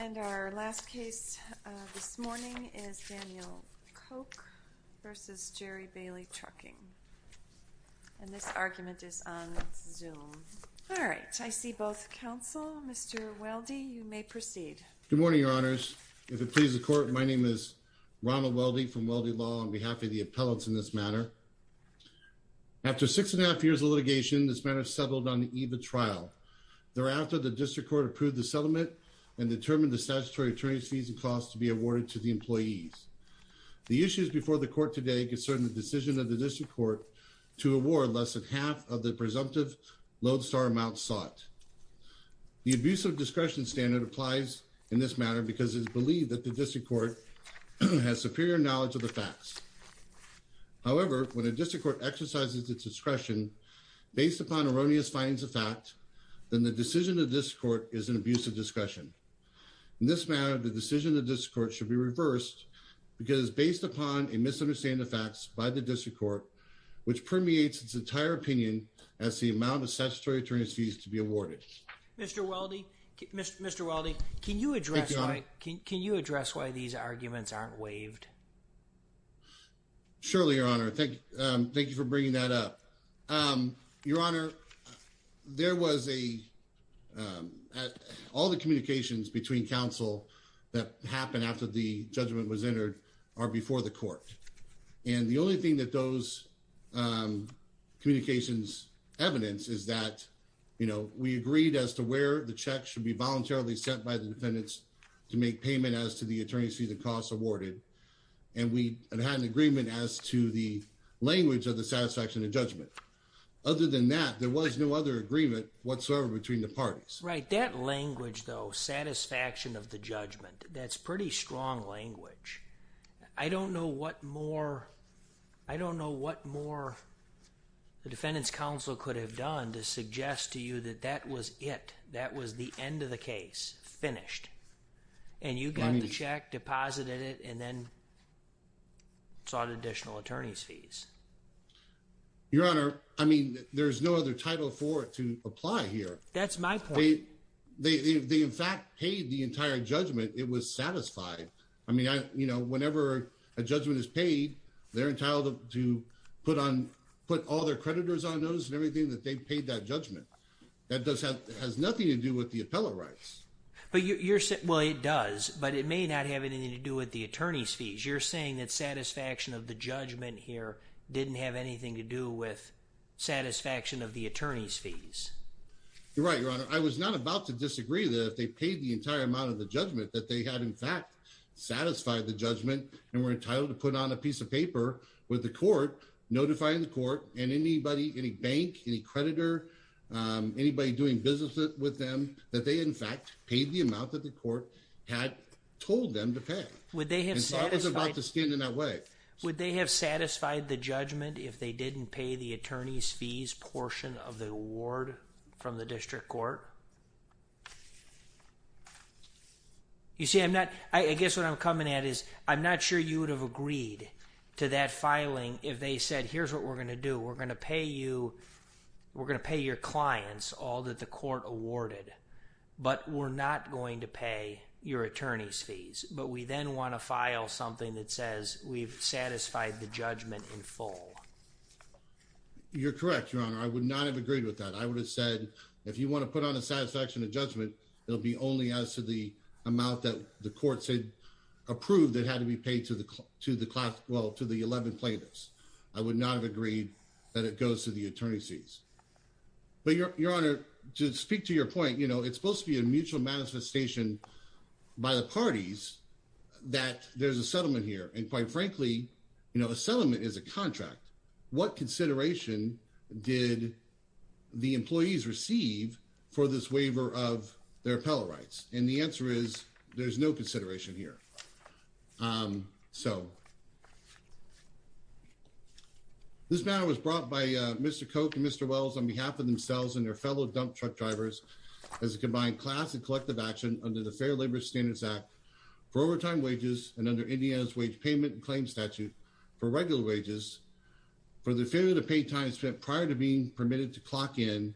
And our last case this morning is Daniel Koch v. Jerry Bailey Trucking. And this argument is on Zoom. Alright, I see both counsel. Mr. Weldy, you may proceed. Good morning, Your Honors. If it pleases the Court, my name is Ronald Weldy from Weldy Law on behalf of the appellants in this matter. After six and a half years of litigation, this matter is settled on the eve of trial. Thereafter, the District Court approved the settlement and determined the statutory attorney's fees and costs to be awarded to the employees. The issues before the Court today concern the decision of the District Court to award less than half of the presumptive lodestar amount sought. The abuse of discretion standard applies in this matter because it is believed that the District Court has superior knowledge of the facts. However, when a District Court exercises its discretion based upon erroneous findings of fact, then the decision of the District Court is an abuse of discretion. In this matter, the decision of the District Court should be reversed because it is based upon a misunderstanding of facts by the District Court, which permeates its entire opinion as to the amount of statutory attorney's fees to be awarded. Mr. Weldy, can you address why these arguments aren't waived? Surely, Your Honor. Thank you for bringing that up. Your Honor, all the communications between counsel that happened after the judgment was entered are before the Court. And the only thing that those communications evidence is that we agreed as to where the check should be voluntarily sent by the defendants to make payment as to the attorney's fees and costs awarded. And we had an agreement as to the language of the satisfaction of judgment. Other than that, there was no other agreement whatsoever between the parties. Right. That language, though, satisfaction of the judgment, that's pretty strong language. I don't know what more the defendant's counsel could have done to suggest to you that that was it. That was the end of the case. Finished. And you got the check, deposited it, and then sought additional attorney's fees. Your Honor, I mean, there's no other title for it to apply here. That's my point. They in fact paid the entire judgment. It was satisfied. I mean, you know, whenever a judgment is paid, they're entitled to put all their creditors on notice and everything that they paid that judgment. That has nothing to do with the appellate rights. Well, it does, but it may not have anything to do with the attorney's fees. You're saying that satisfaction of the judgment here didn't have anything to do with satisfaction of the attorney's fees. You're right, Your Honor. I was not about to disagree that if they paid the entire amount of the judgment that they had in fact satisfied the judgment and were entitled to put on a piece of paper with the court notifying the court and anybody, any bank, any creditor, anybody doing business with them, that they in fact paid the amount that the court had told them to pay. Would they have satisfied? I was about to stand in that way. Would they have satisfied the judgment if they didn't pay the attorney's fees portion of the award from the district court? You see, I guess what I'm coming at is I'm not sure you would have agreed to that filing if they said, here's what we're going to do. We're going to pay you. We're going to pay your clients all that the court awarded, but we're not going to pay your attorney's fees. But we then want to file something that says we've satisfied the judgment in full. You're correct, Your Honor. I would not have agreed with that. I would have said if you want to put on a satisfaction of judgment, it'll be only as to the amount that the courts had approved that had to be paid to the class. Well, to the 11 plaintiffs, I would not have agreed that it goes to the attorney's fees. Your Honor, to speak to your point, it's supposed to be a mutual manifestation by the parties that there's a settlement here. And quite frankly, a settlement is a contract. What consideration did the employees receive for this waiver of their appellate rights? And the answer is there's no consideration here. So. This matter was brought by Mr. Coke and Mr. Wells on behalf of themselves and their fellow dump truck drivers as a combined class and collective action under the Fair Labor Standards Act for overtime wages and under Indiana's wage payment claim statute for regular wages. For the failure to pay time spent prior to being permitted to clock in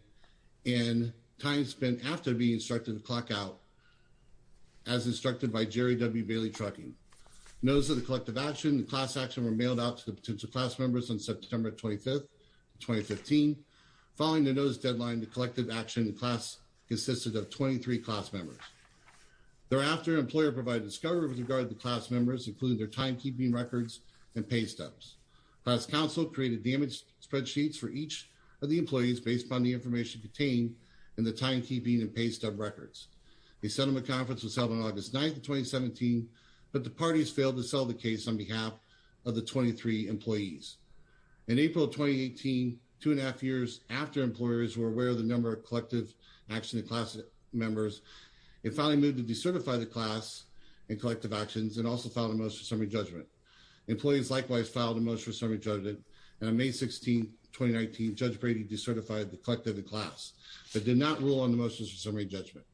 and time spent after being instructed to clock out, as instructed by Jerry W. Bailey Trucking. Notice of the collective action, the class action were mailed out to the potential class members on September 25th, 2015. Following the notice deadline, the collective action class consisted of 23 class members. Thereafter, an employer provided discovery with regard to the class members, including their timekeeping records and pay stubs. The class council created damage spreadsheets for each of the employees based on the information contained in the timekeeping and pay stub records. The settlement conference was held on August 9th, 2017, but the parties failed to sell the case on behalf of the 23 employees. In April 2018, two and a half years after employers were aware of the number of collective action class members, it finally moved to decertify the class and collective actions and also filed a motion for summary judgment. Employees likewise filed a motion for summary judgment, and on May 16, 2019, Judge Brady decertified the collective class, but did not rule on the motions for summary judgment.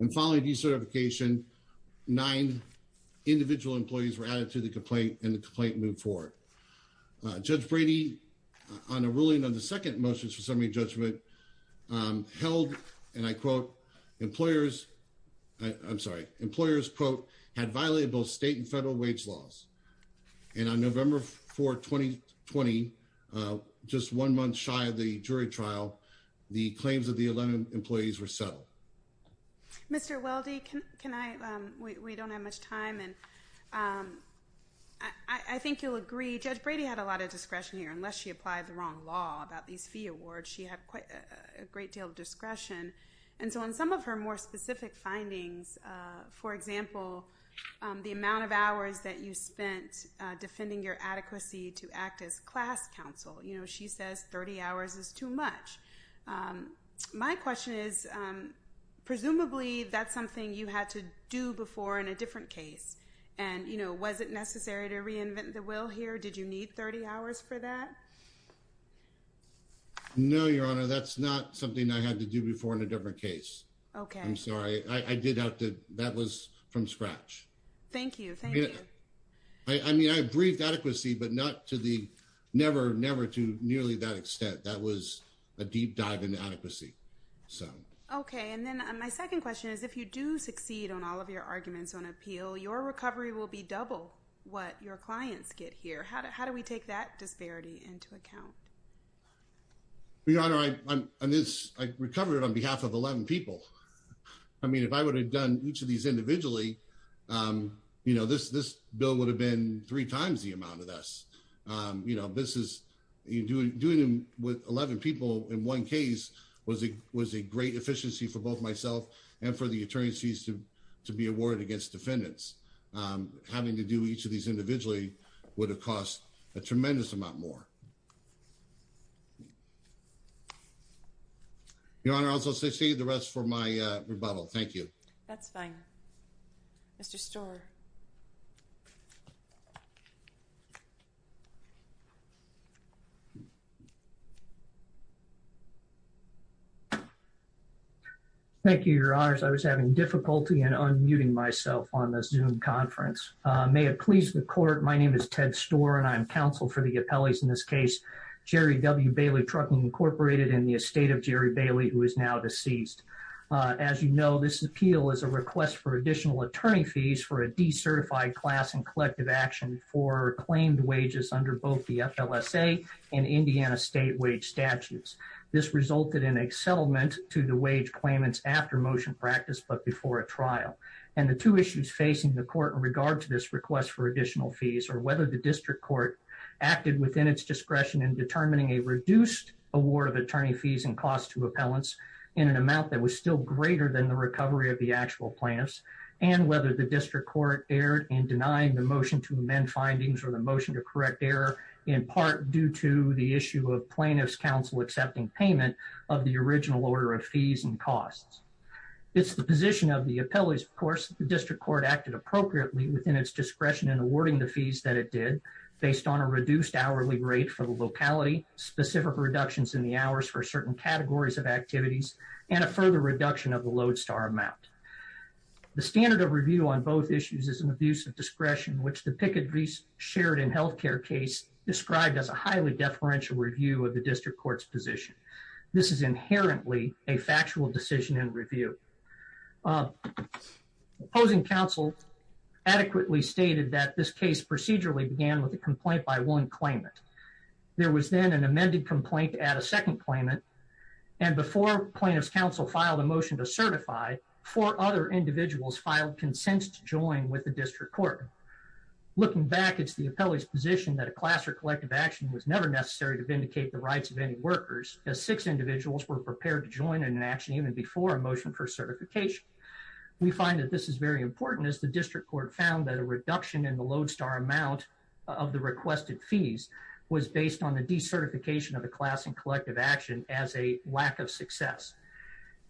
And following decertification, nine individual employees were added to the complaint and the complaint moved forward. Judge Brady, on a ruling on the second motions for summary judgment, held, and I quote, employers, I'm sorry, employers, quote, had violated both state and federal wage laws. And on November 4, 2020, just one month shy of the jury trial, the claims of the 11 employees were settled. Mr. Weldy, can I, we don't have much time, and I think you'll agree, Judge Brady had a lot of discretion here. Unless she applied the wrong law about these fee awards, she had quite a great deal of discretion. And so on some of her more specific findings, for example, the amount of hours that you spent defending your adequacy to act as class counsel, you know, she says 30 hours is too much. My question is, presumably, that's something you had to do before in a different case. And, you know, was it necessary to reinvent the wheel here? Did you need 30 hours for that? No, Your Honor, that's not something I had to do before in a different case. Okay. I'm sorry. I did have to, that was from scratch. Thank you. Thank you. I mean, I briefed adequacy, but not to the, never, never to nearly that extent. That was a deep dive into adequacy. Okay. And then my second question is, if you do succeed on all of your arguments on appeal, your recovery will be double what your clients get here. How do we take that disparity into account? Your Honor, I recovered on behalf of 11 people. I mean, if I would have done each of these individually, you know, this bill would have been three times the amount of this. You know, this is, doing them with 11 people in one case was a great efficiency for both myself and for the attorneys to be awarded against defendants. Having to do each of these individually would have cost a tremendous amount more. Your Honor, I also secede the rest for my rebuttal. Thank you. That's fine. Mr. Storer. Thank you, Your Honors. I was having difficulty in unmuting myself on this Zoom conference. May it please the Court, my name is Ted Storer, and I'm counsel for the appellees in this case. Jerry W. Bailey, Trucking Incorporated, in the estate of Jerry Bailey, who is now deceased. As you know, this appeal is a request for additional attorney fees for a decertified class in collective action for claimed wages under both the FLSA and Indiana state wage statutes. This resulted in a settlement to the wage claimants after motion practice, but before a trial. And the two issues facing the Court in regard to this request for additional fees are whether the District Court acted within its discretion in determining a reduced award of attorney fees and costs to appellants in an amount that was still greater than the recovery of the actual plaintiffs, and whether the District Court erred in denying the motion to amend findings or the motion to correct error, in part due to the issue of plaintiffs' counsel accepting payment of the original order of fees and costs. It's the position of the appellees, of course, that the District Court acted appropriately within its discretion in awarding the fees that it did, based on a reduced hourly rate for the locality, specific reductions in the hours for certain categories of activities, and a further reduction of the Lodestar amount. The standard of review on both issues is an abuse of discretion, which the Pickett v. Sheridan health care case described as a highly deferential review of the District Court's position. This is inherently a factual decision in review. Opposing counsel adequately stated that this case procedurally began with a complaint by one claimant. There was then an amended complaint at a second claimant, and before plaintiffs' counsel filed a motion to certify, four other individuals filed consents to join with the District Court. Looking back, it's the appellee's position that a class or collective action was never necessary to vindicate the rights of any workers, as six individuals were prepared to join in an action even before a motion for certification. We find that this is very important, as the District Court found that a reduction in the Lodestar amount of the requested fees was based on the decertification of the class and collective action as a lack of success.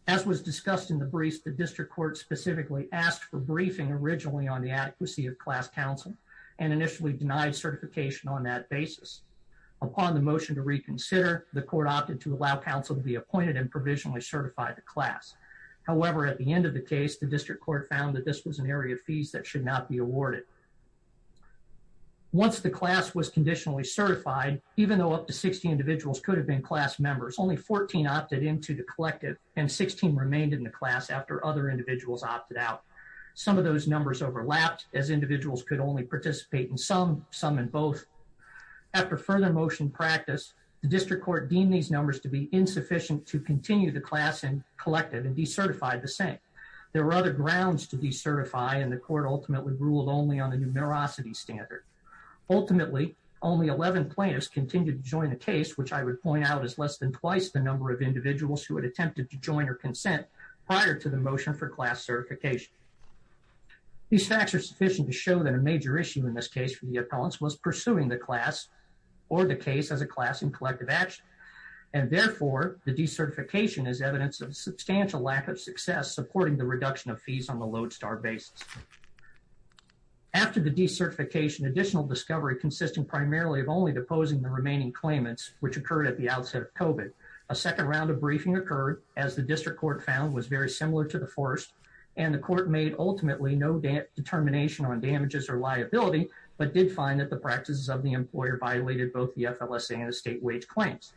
As was discussed in the briefs, the District Court specifically asked for briefing originally on the adequacy of class counsel, and initially denied certification on that basis. Upon the motion to reconsider, the court opted to allow counsel to be appointed and provisionally certify the class. However, at the end of the case, the District Court found that this was an area of fees that should not be awarded. Once the class was conditionally certified, even though up to 60 individuals could have been class members, only 14 opted into the collective, and 16 remained in the class after other individuals opted out. Some of those numbers overlapped, as individuals could only participate in some, some in both. After further motion practice, the District Court deemed these numbers to be insufficient to continue the class and collective, and decertified the same. There were other grounds to decertify, and the court ultimately ruled only on the numerosity standard. Ultimately, only 11 plaintiffs continued to join the case, which I would point out is less than twice the number of individuals who had attempted to join or consent prior to the motion for class certification. These facts are sufficient to show that a major issue in this case for the appellants was pursuing the class or the case as a class in collective action. And therefore, the decertification is evidence of substantial lack of success supporting the reduction of fees on the lodestar basis. After the decertification, additional discovery consisting primarily of only deposing the remaining claimants, which occurred at the outset of COVID. A second round of briefing occurred, as the District Court found was very similar to the first, and the court made ultimately no determination on damages or liability, but did find that the practices of the employer violated both the FLSA and the state wage claims.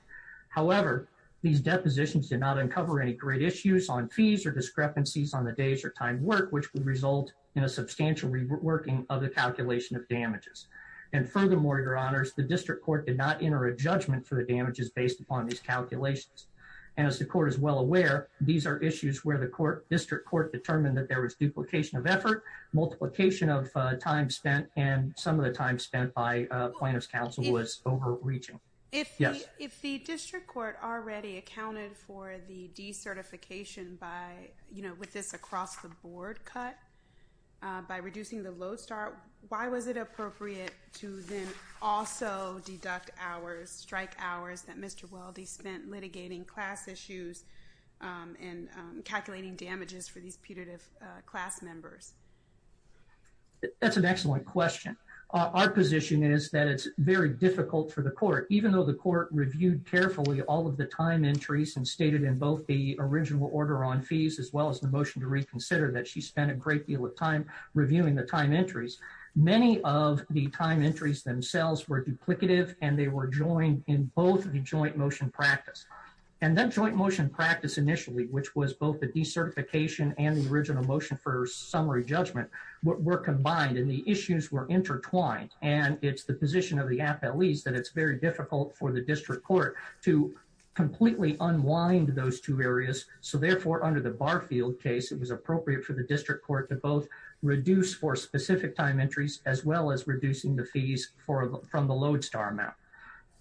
However, these depositions did not uncover any great issues on fees or discrepancies on the days or time work, which would result in a substantial reworking of the calculation of damages. And furthermore, your honors, the District Court did not enter a judgment for the damages based upon these calculations. And as the court is well aware, these are issues where the court, District Court determined that there was duplication of effort, multiplication of time spent, and some of the time spent by plaintiff's counsel was overreaching. If the District Court already accounted for the decertification by, you know, with this across-the-board cut, by reducing the lodestar, why was it appropriate to then also deduct hours, strike hours, that Mr. Weldy spent litigating class issues and calculating damages for these putative class members? That's an excellent question. Our position is that it's very difficult for the court, even though the court reviewed carefully all of the time entries and stated in both the original order on fees as well as the motion to reconsider that she spent a great deal of time reviewing the time entries. Many of the time entries themselves were duplicative and they were joined in both of the joint motion practice. And then joint motion practice initially, which was both the decertification and the original motion for summary judgment, were combined and the issues were intertwined. And it's the position of the appellees that it's very difficult for the District Court to completely unwind those two areas. So therefore, under the Barfield case, it was appropriate for the District Court to both reduce for specific time entries as well as reducing the fees from the lodestar amount.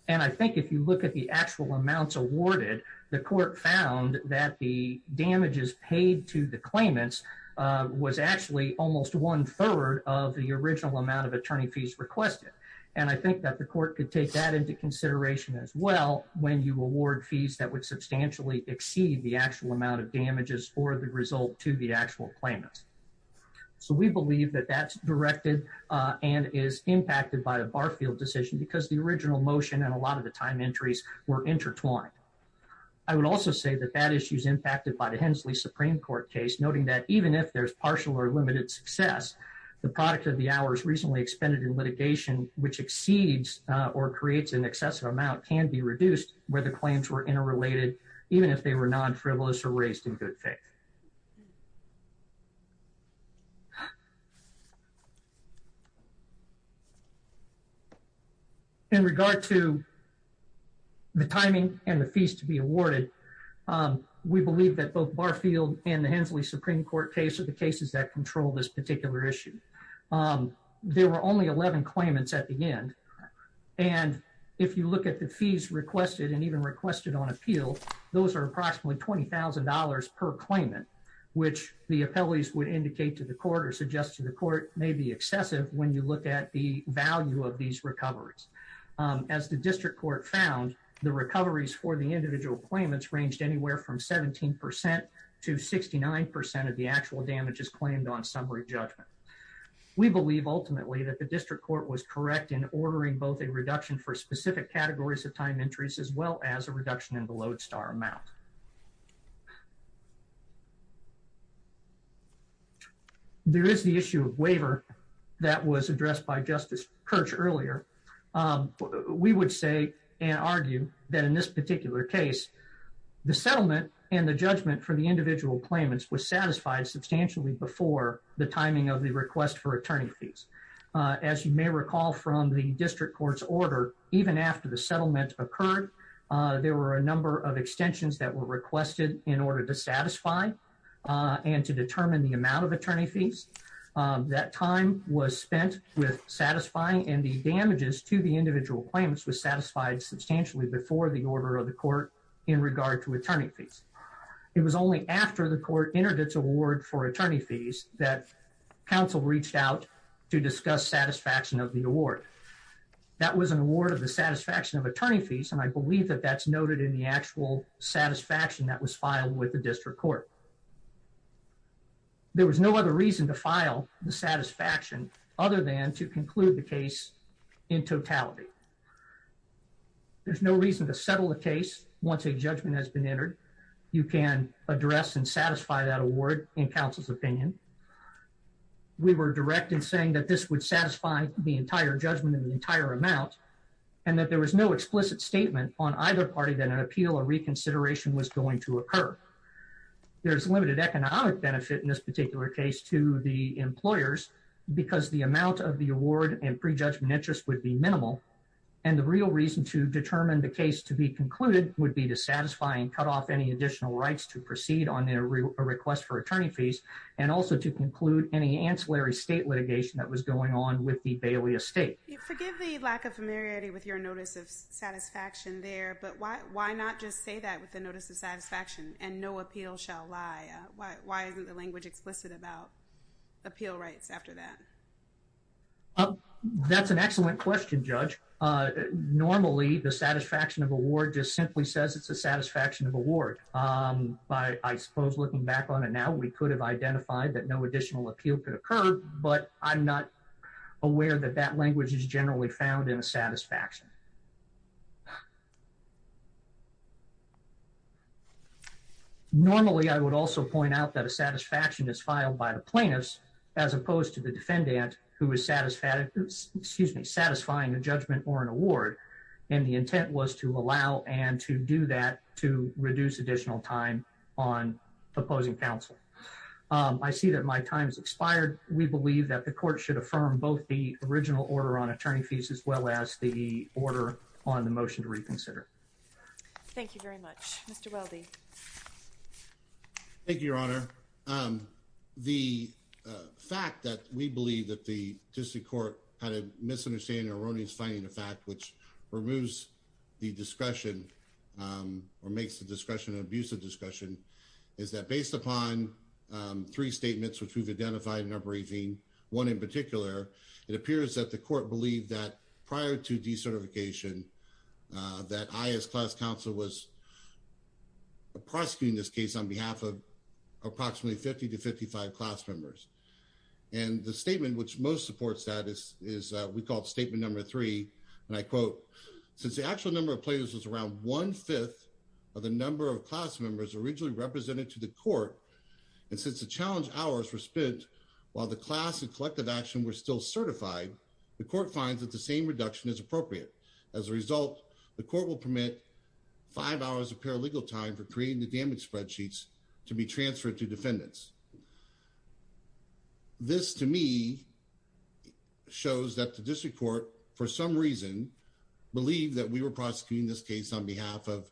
And I think if you look at the actual amounts awarded, the court found that the damages paid to the claimants was actually almost one third of the original amount of attorney fees requested. And I think that the court could take that into consideration as well when you award fees that would substantially exceed the actual amount of damages for the result to the actual claimants. So we believe that that's directed and is impacted by the Barfield decision because the original motion and a lot of the time entries were intertwined. I would also say that that issue is impacted by the Hensley Supreme Court case, noting that even if there's partial or limited success, the product of the hours recently expended in litigation which exceeds or creates an excessive amount can be reduced where the claims were interrelated, even if they were non-frivolous or raised in good faith. In regard to the timing and the fees to be awarded, we believe that both Barfield and the Hensley Supreme Court case are the cases that control this particular issue. There were only 11 claimants at the end. And if you look at the fees requested and even requested on appeal, those are approximately $20,000 per claimant, which the appellees would indicate to the court or suggest to the court may be excessive when you look at the value of these recoveries. As the district court found, the recoveries for the individual claimants ranged anywhere from 17% to 69% of the actual damages claimed on summary judgment. We believe ultimately that the district court was correct in ordering both a reduction for specific categories of time entries as well as a reduction in the load star amount. There is the issue of waiver that was addressed by Justice Kirch earlier. We would say and argue that in this particular case, the settlement and the judgment for the individual claimants was satisfied substantially before the timing of the request for attorney fees. As you may recall from the district court's order, even after the settlement occurred, there were a number of extensions that were requested in order to satisfy and to determine the amount of attorney fees. That time was spent with satisfying and the damages to the individual claimants was satisfied substantially before the order of the court in regard to attorney fees. It was only after the court entered its award for attorney fees that counsel reached out to discuss satisfaction of the award. That was an award of the satisfaction of attorney fees, and I believe that that's noted in the actual satisfaction that was filed with the district court. There was no other reason to file the satisfaction other than to conclude the case in totality. There's no reason to settle the case once a judgment has been entered. You can address and satisfy that award in counsel's opinion. We were direct in saying that this would satisfy the entire judgment in the entire amount and that there was no explicit statement on either party that an appeal or reconsideration was going to occur. There's limited economic benefit in this particular case to the employers because the amount of the award and prejudgment interest would be minimal. And the real reason to determine the case to be concluded would be to satisfy and cut off any additional rights to proceed on their request for attorney fees and also to conclude any ancillary state litigation that was going on with the Baylius State. Forgive the lack of familiarity with your notice of satisfaction there, but why not just say that with the notice of satisfaction and no appeal shall lie? Why isn't the language explicit about appeal rights after that? That's an excellent question, Judge. Normally, the satisfaction of award just simply says it's a satisfaction of award. I suppose looking back on it now, we could have identified that no additional appeal could occur, but I'm not aware that that language is generally found in a satisfaction. Normally, I would also point out that a satisfaction is filed by the plaintiffs as opposed to the defendant who is satisfied, excuse me, satisfying a judgment or an award. And the intent was to allow and to do that to reduce additional time on opposing counsel. I see that my time's expired. We believe that the court should affirm both the original order on attorney fees as well as the order on the motion to reconsider. Thank you very much, Mr. Weldy. Thank you, Your Honor. The fact that we believe that the District Court had a misunderstanding or erroneous finding of fact, which removes the discretion or makes the discretion an abusive discretion, is that based upon three statements, which we've identified in our briefing, one in particular, it appears that the court believed that prior to decertification, that I as class counsel was prosecuting this case on behalf of approximately 50 to 55 class members. And the statement which most supports that is we call it statement number three, and I quote, since the actual number of players was around one-fifth of the number of class members originally represented to the court. And since the challenge hours were spent while the class and collective action were still certified, the court finds that the same reduction is appropriate. As a result, the court will permit five hours of paralegal time for creating the damage spreadsheets to be transferred to defendants. This, to me, shows that the District Court, for some reason, believed that we were prosecuting this case on behalf of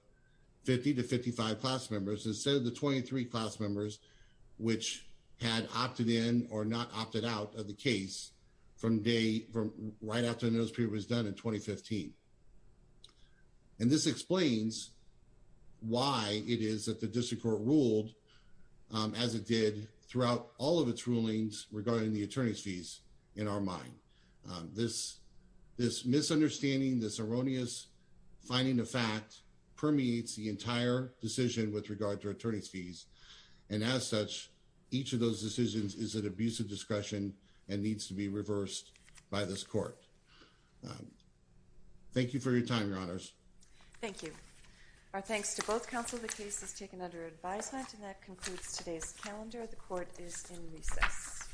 50 to 55 class members instead of the 23 class members, which had opted in or not opted out of the case right after the notice period was done in 2015. And this explains why it is that the District Court ruled as it did throughout all of its rulings regarding the attorney's fees in our mind. This misunderstanding, this erroneous finding of fact permeates the entire decision with regard to attorney's fees. And as such, each of those decisions is an abuse of discretion and needs to be reversed by this court. Thank you for your time, Your Honors. Thank you. Our thanks to both counsel. The case is taken under advisement and that concludes today's calendar. The court is in recess.